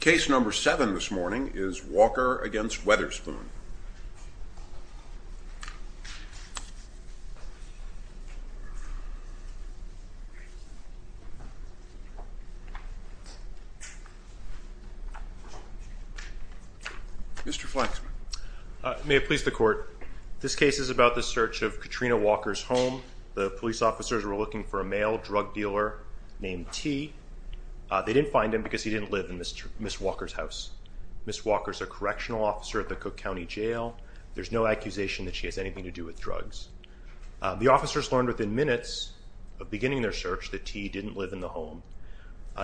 Case number seven this morning is Walker v. Weatherspoon Mr. Flexman May it please the court, this case is about the search of Katrina Walker's home. The police officers were looking for a male drug dealer named T. They didn't find him because he didn't live in Ms. Walker's house. Ms. Walker's a correctional officer at the Cook County Jail. There's no accusation that she has anything to do with drugs. The officers learned within minutes of beginning their search that T didn't live in the home.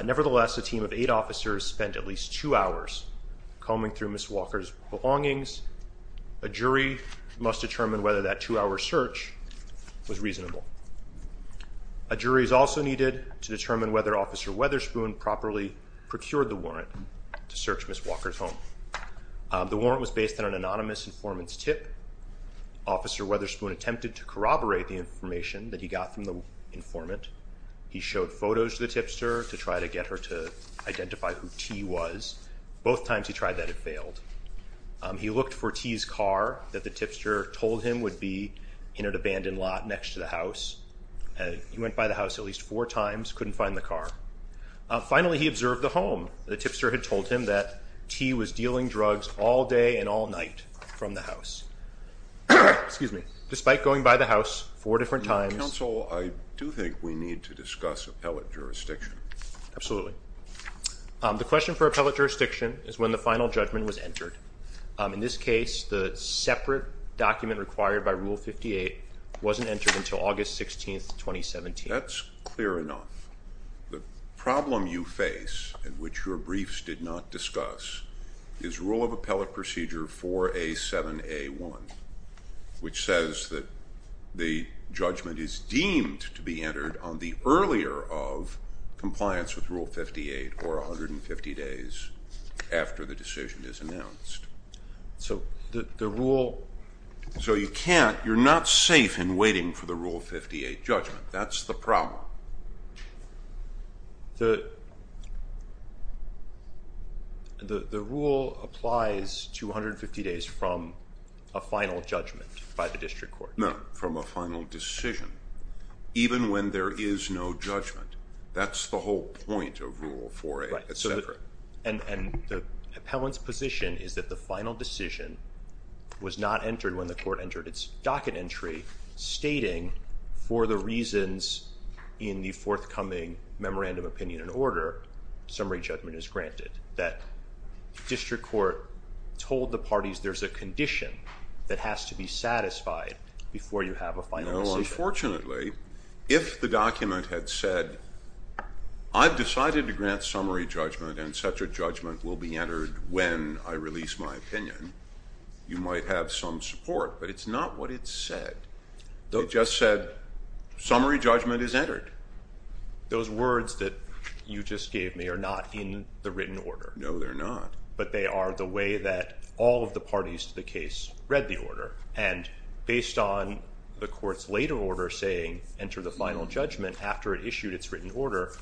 Nevertheless, a team of eight officers spent at least two hours combing through Ms. Walker's belongings. A jury must determine whether that two-hour search was reasonable. A jury is also needed to determine whether Officer Weatherspoon properly procured the warrant to search Ms. Walker's home. The warrant was based on an anonymous informant's tip. Officer Weatherspoon attempted to corroborate the information that he got from the informant. He showed photos to the tipster to try to get her to identify who T was. Both times he tried that, it failed. He looked for T's car that the tipster told him would be in an abandoned lot next to the house. He went by the house at least four times, couldn't find the car. Finally, he observed the home. The tipster had told him that T was dealing drugs all day and all night from the house. Despite going by the house four different times. Counsel, I do think we need to discuss appellate jurisdiction. Absolutely. The question for appellate jurisdiction is when the final judgment was entered. In this case, the separate document required by Rule 58 wasn't entered until August 16, 2017. That's clear enough. The problem you face, in which your briefs did not discuss, is Rule of Appellate Procedure 4A7A1, which says that the judgment is deemed to be entered on the earlier of compliance with Rule 58, or 150 days after the decision is announced. You're not safe in waiting for the Rule 58 judgment. That's the problem. The rule applies to 150 days from a final judgment by the district court. No, from a final decision. Even when there is no judgment. That's the whole point of Rule 4A. The appellant's position is that the final decision was not entered when the court entered its docket entry, stating, for the reasons in the forthcoming Memorandum of Opinion and Order, summary judgment is granted. That district court told the parties there's a condition that has to be satisfied before you have a final decision. No, unfortunately, if the document had said, I've decided to grant summary judgment and such a judgment will be entered when I release my opinion, you might have some support, but it's not what it said. It just said, summary judgment is entered. Those words that you just gave me are not in the written order. No, they're not. But they are the way that all of the parties to the case read the order, and based on the court's later order saying enter the final judgment after it issued its written order,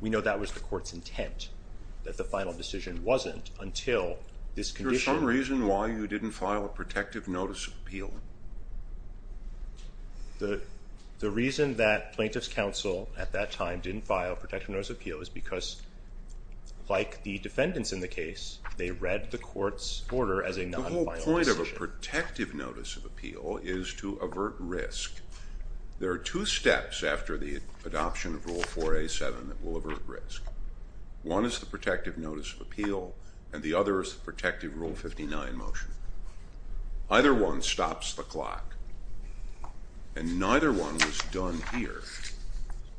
we know that was the court's intent, that the final decision wasn't until this condition. Is there some reason why you didn't file a protective notice of appeal? The reason that plaintiff's counsel at that time didn't file a protective notice of appeal is because, like the defendants in the case, they read the court's order as a non-final decision. The whole point of a protective notice of appeal is to avert risk. There are two steps after the adoption of Rule 4A.7 that will avert risk. One is the protective notice of appeal, and the other is the protective Rule 59 motion. Either one stops the clock, and neither one was done here.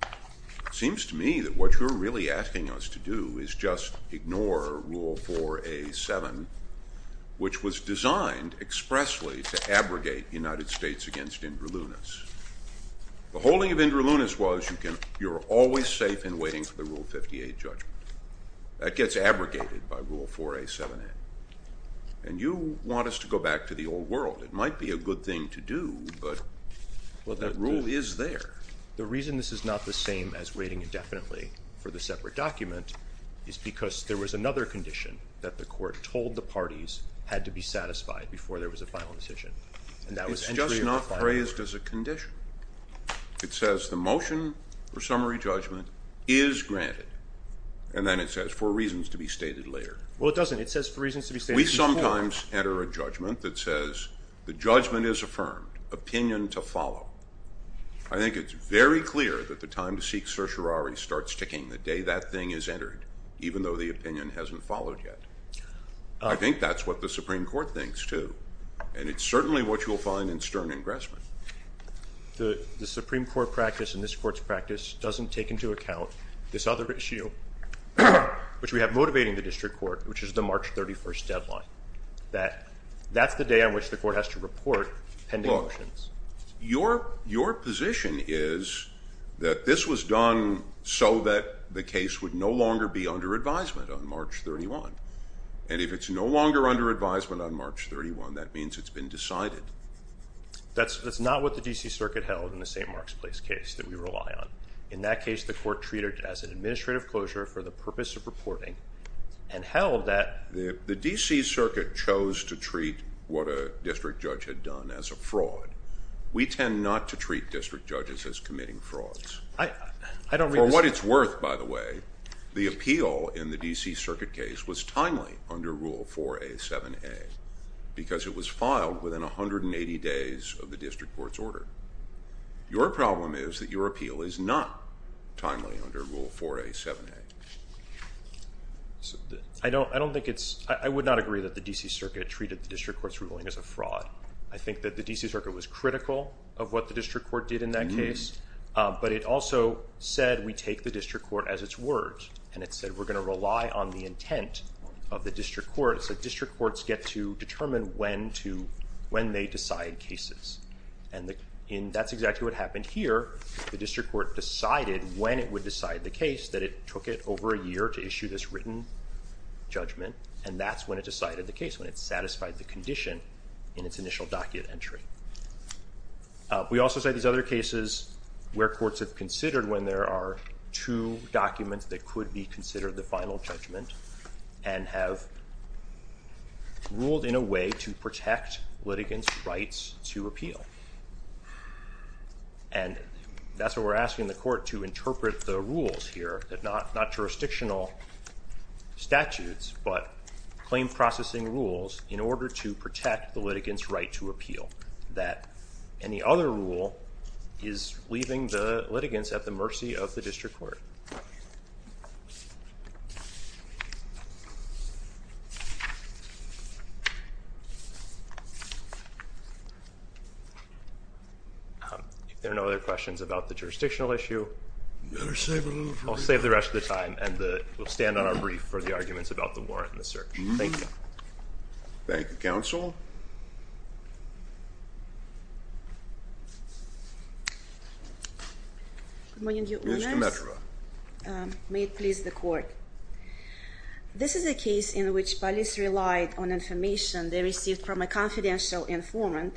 It seems to me that what you're really asking us to do is just ignore Rule 4A.7, which was designed expressly to abrogate the United States against Indra Loonis. The holding of Indra Loonis was you're always safe in waiting for the Rule 58 judgment. That gets abrogated by Rule 4A.7. And you want us to go back to the old world. It might be a good thing to do, but that rule is there. The reason this is not the same as waiting indefinitely for the separate document is because there was another condition that the court told the parties had to be satisfied before there was a final decision. It's just not praised as a condition. It says the motion for summary judgment is granted, and then it says for reasons to be stated later. Well, it doesn't. It says for reasons to be stated before. We sometimes enter a judgment that says the judgment is affirmed, opinion to follow. I think it's very clear that the time to seek certiorari starts ticking the day that thing is entered, even though the opinion hasn't followed yet. I think that's what the Supreme Court thinks, too. And it's certainly what you'll find in stern ingressment. The Supreme Court practice and this court's practice doesn't take into account this other issue, which we have motivating the district court, which is the March 31st deadline. That's the day on which the court has to report pending motions. Look, your position is that this was done so that the case would no longer be under advisement on March 31. And if it's no longer under advisement on March 31, that means it's been decided. That's not what the D.C. Circuit held in the St. Mark's Place case that we rely on. In that case, the court treated it as an administrative closure for the purpose of reporting and held that... The D.C. Circuit chose to treat what a district judge had done as a fraud. We tend not to treat district judges as committing frauds. I don't... under Rule 4A, 7A because it was filed within 180 days of the district court's order. Your problem is that your appeal is not timely under Rule 4A, 7A. I don't think it's... I would not agree that the D.C. Circuit treated the district court's ruling as a fraud. I think that the D.C. Circuit was critical of what the district court did in that case. But it also said we take the district court as its word. And it said we're going to rely on the intent of the district court. So district courts get to determine when they decide cases. And that's exactly what happened here. The district court decided when it would decide the case that it took it over a year to issue this written judgment. And that's when it decided the case, when it satisfied the condition in its initial docket entry. We also say these other cases where courts have considered when there are two documents that could be considered the final judgment and have ruled in a way to protect litigants' rights to appeal. And that's what we're asking the court to interpret the rules here, not jurisdictional statutes, but claim processing rules in order to protect the litigants' right to appeal. That any other rule is leaving the litigants at the mercy of the district court. If there are no other questions about the jurisdictional issue... I'll save the rest of the time. And we'll stand on our brief for the arguments about the warrant and the search. Thank you. Thank you, Counsel. Good morning, Your Honors. Ms. Demetra. May it please the Court. This is a case in which police relied on information they received from a confidential informant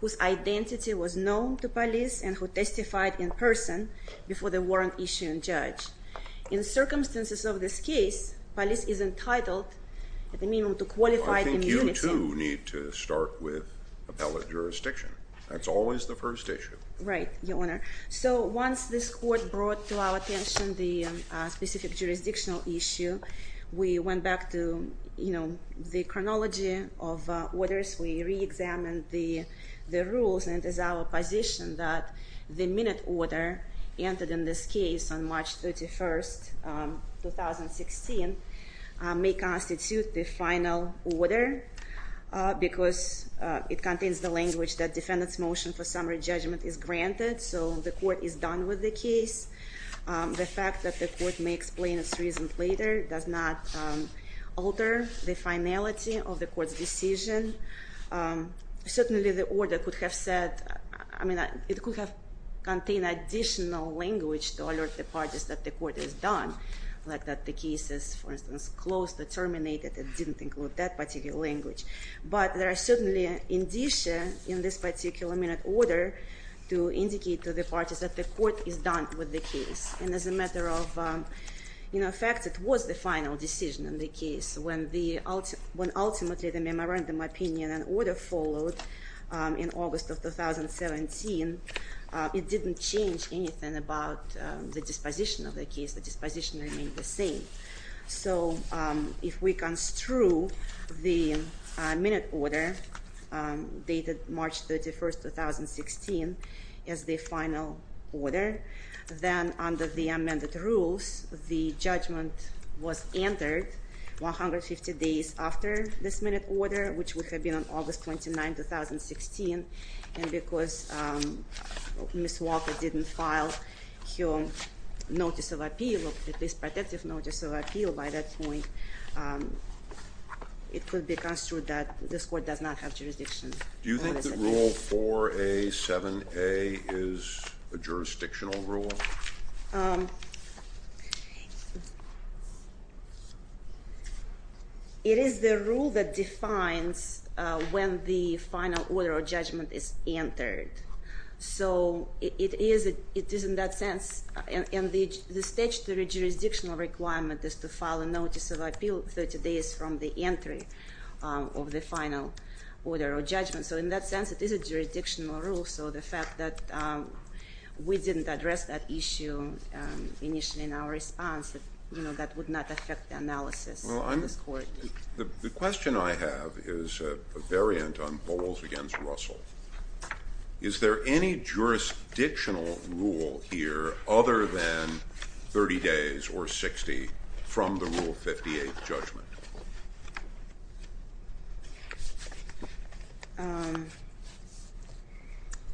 whose identity was known to police and who testified in person before the warrant issue and judge. In circumstances of this case, police is entitled at the minimum to qualified immunity. I think you, too, need to start with appellate jurisdiction. That's always the first issue. Right, Your Honor. So once this court brought to our attention the specific jurisdictional issue, we went back to the chronology of orders. We reexamined the rules. And it is our position that the minute order entered in this case on March 31, 2016, may constitute the final order because it contains the language that defendant's motion for summary judgment is granted. So the court is done with the case. The fact that the court may explain its reasons later does not alter the finality of the court's decision. Certainly, the order could have said, I mean, it could have contained additional language to alert the parties that the court is done, like that the case is, for instance, closed, terminated, and didn't include that particular language. But there are certainly indicia in this particular minute order to indicate to the parties that the court is done with the case. And as a matter of fact, it was the final decision in the case. When ultimately the memorandum opinion and order followed in August of 2017, it didn't change anything about the disposition of the case. The disposition remained the same. So if we construe the minute order dated March 31, 2016, as the final order, then under the amended rules, the judgment was entered 150 days after this minute order, which would have been on August 29, 2016. And because Ms. Walker didn't file her notice of appeal, at least protective notice of appeal by that point, it could be construed that this court does not have jurisdiction. Do you think that Rule 4A, 7A is a jurisdictional rule? Well, it is the rule that defines when the final order or judgment is entered. So it is in that sense. And the statutory jurisdictional requirement is to file a notice of appeal 30 days from the entry of the final order or judgment. So in that sense, it is a jurisdictional rule. And if so, the fact that we didn't address that issue initially in our response, that would not affect the analysis of this court. The question I have is a variant on Bowles against Russell. Is there any jurisdictional rule here other than 30 days or 60 from the Rule 58 judgment?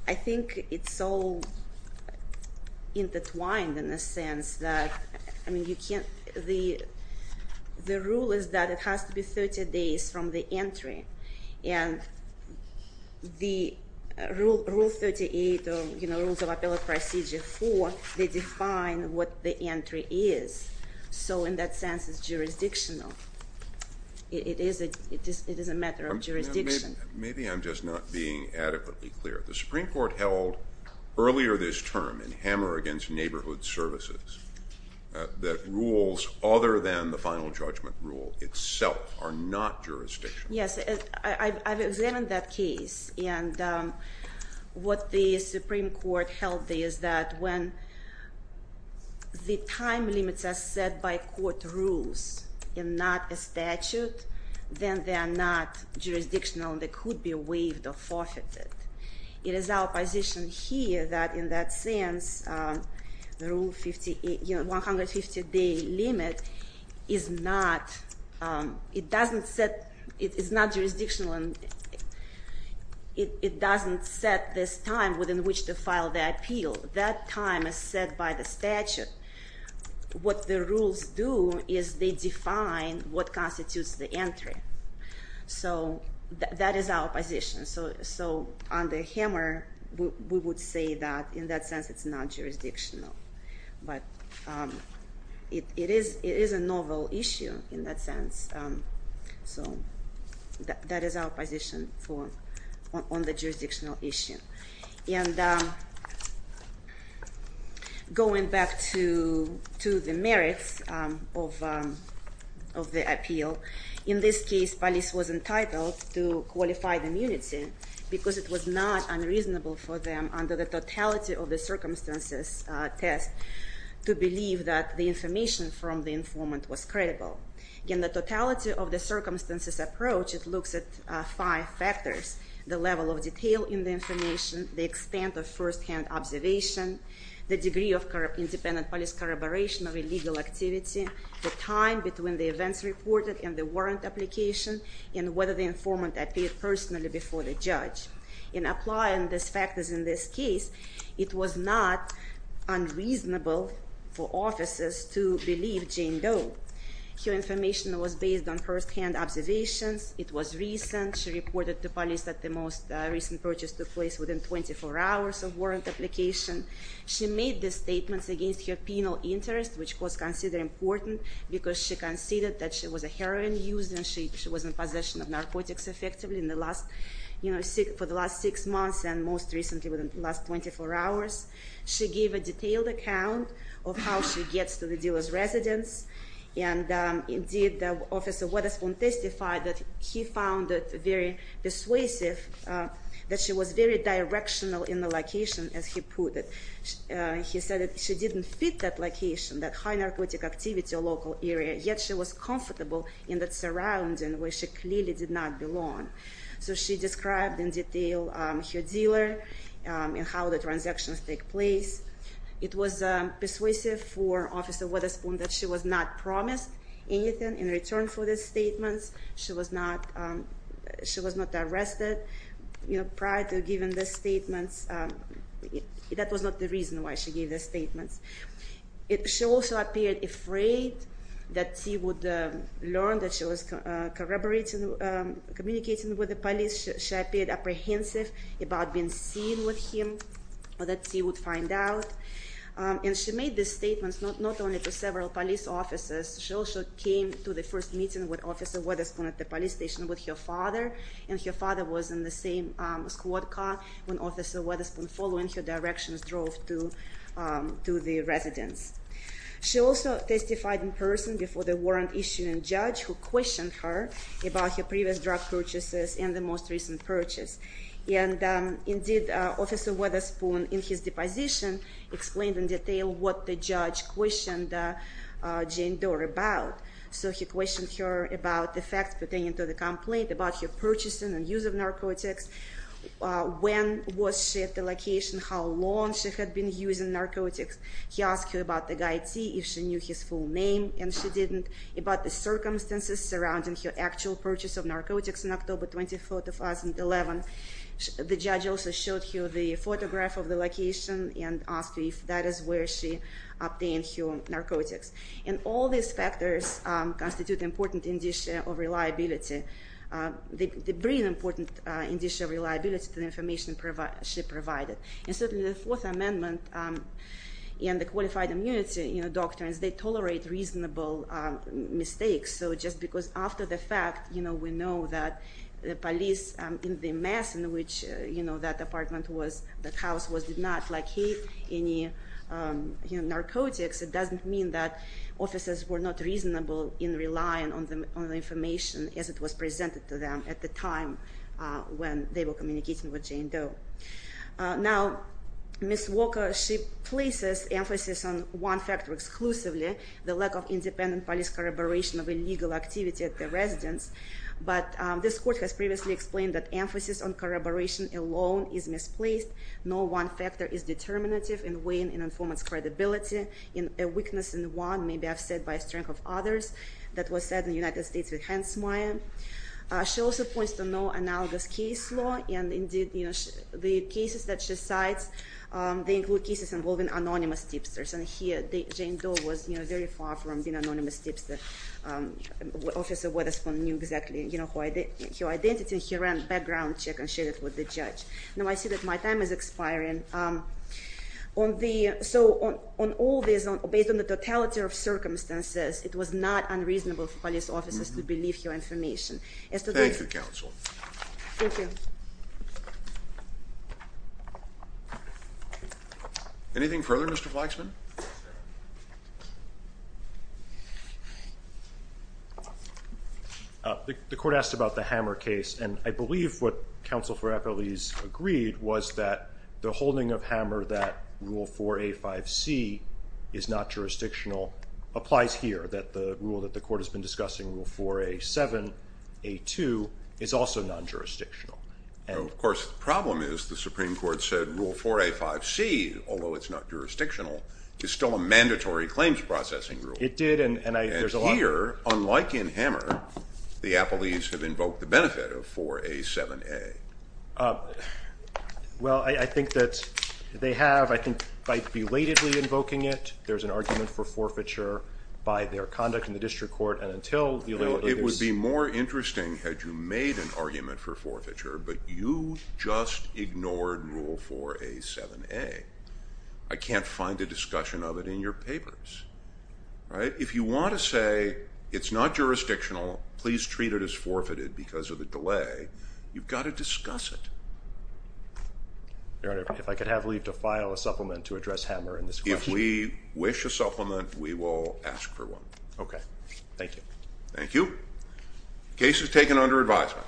I think it's all intertwined in the sense that the rule is that it has to be 30 days from the entry. And the Rule 38, Rules of Appellate Procedure 4, they define what the entry is. So in that sense, it's jurisdictional. It is a matter of jurisdiction. Maybe I'm just not being adequately clear. The Supreme Court held earlier this term in Hammer against Neighborhood Services that rules other than the final judgment rule itself are not jurisdictional. Yes, I've examined that case. And what the Supreme Court held is that when the time limits are set by court rules and not a statute, then they are not jurisdictional and they could be waived or forfeited. It is our position here that in that sense, the 150-day limit is not jurisdictional and it doesn't set this time within which to file the appeal. That time is set by the statute. What the rules do is they define what constitutes the entry. So that is our position. So under Hammer, we would say that in that sense, it's not jurisdictional. But it is a novel issue in that sense. So that is our position on the jurisdictional issue. And going back to the merits of the appeal, in this case, police was entitled to qualified immunity because it was not unreasonable for them under the totality of the circumstances test to believe that the information from the informant was credible. In the totality of the circumstances approach, it looks at five factors. The level of detail in the information, the extent of firsthand observation, the degree of independent police corroboration of illegal activity, the time between the events reported and the warrant application, and whether the informant appeared personally before the judge. In applying these factors in this case, it was not unreasonable for officers to believe Jane Doe. Her information was based on firsthand observations. It was recent. She reported to police that the most recent purchase took place within 24 hours of warrant application. She made the statements against her penal interest, which was considered important because she conceded that she was a heroin user and she was in possession of narcotics effectively for the last six months and most recently within the last 24 hours. She gave a detailed account of how she gets to the dealer's residence. And indeed, Officer Wetherspoon testified that he found it very persuasive that she was very directional in the location, as he put it. He said that she didn't fit that location, that high narcotic activity local area, yet she was comfortable in that surrounding where she clearly did not belong. So she described in detail her dealer and how the transactions take place. It was persuasive for Officer Wetherspoon that she was not promised anything in return for the statements. She was not arrested. Prior to giving the statements, that was not the reason why she gave the statements. She also appeared afraid that she would learn that she was corroborating, communicating with the police. She appeared apprehensive about being seen with him or that she would find out. And she made the statements not only to several police officers. She also came to the first meeting with Officer Wetherspoon at the police station with her father. And her father was in the same squad car when Officer Wetherspoon, following her directions, drove to the residence. She also testified in person before the warrant-issuing judge, who questioned her about her previous drug purchases and the most recent purchase. And indeed, Officer Wetherspoon, in his deposition, explained in detail what the judge questioned Jane Doe about. So he questioned her about the facts pertaining to the complaint, about her purchasing and use of narcotics, when was she at the location, how long she had been using narcotics. He asked her about the guy, T, if she knew his full name, and she didn't, about the circumstances surrounding her actual purchase of narcotics on October 24, 2011. The judge also showed her the photograph of the location and asked her if that is where she obtained her narcotics. And all these factors constitute important indicia of reliability. They bring important indicia of reliability to the information she provided. And certainly the Fourth Amendment and the qualified immunity doctrines, they tolerate reasonable mistakes. So just because after the fact, we know that the police in the mess in which that apartment was, that house was, did not locate any narcotics, it doesn't mean that officers were not reasonable in relying on the information as it was presented to them at the time when they were communicating with Jane Doe. Now, Ms. Walker, she places emphasis on one factor exclusively, the lack of independent police corroboration of illegal activity at the residence. But this court has previously explained that emphasis on corroboration alone is misplaced. No one factor is determinative in weighing an informant's credibility. A weakness in one may be upset by a strength of others. That was said in the United States with Hansmeier. She also points to no analogous case law. And indeed, the cases that she cites, they include cases involving anonymous tipsters. And here Jane Doe was very far from being an anonymous tipster. Officer Wetherspoon knew exactly her identity. He ran a background check and shared it with the judge. Now I see that my time is expiring. So on all this, based on the totality of circumstances, it was not unreasonable for police officers to believe her information. Thank you, counsel. Thank you. Thank you. Anything further, Mr. Flagsman? The court asked about the Hammer case, and I believe what counsel for appellees agreed was that the holding of Hammer that Rule 4A-5C is not jurisdictional applies here, that the rule that the court has been discussing, Rule 4A-7A-2, is also non-jurisdictional. Of course, the problem is the Supreme Court said Rule 4A-5C, although it's not jurisdictional, is still a mandatory claims processing rule. It did. And here, unlike in Hammer, the appellees have invoked the benefit of 4A-7A. Well, I think that they have. By belatedly invoking it, there's an argument for forfeiture by their conduct in the district court. It would be more interesting had you made an argument for forfeiture, but you just ignored Rule 4A-7A. I can't find a discussion of it in your papers. If you want to say it's not jurisdictional, please treat it as forfeited because of the delay, you've got to discuss it. Your Honor, if I could have leave to file a supplement to address Hammer in this question. If we wish a supplement, we will ask for one. Okay. Thank you. Thank you. Case is taken under advisement.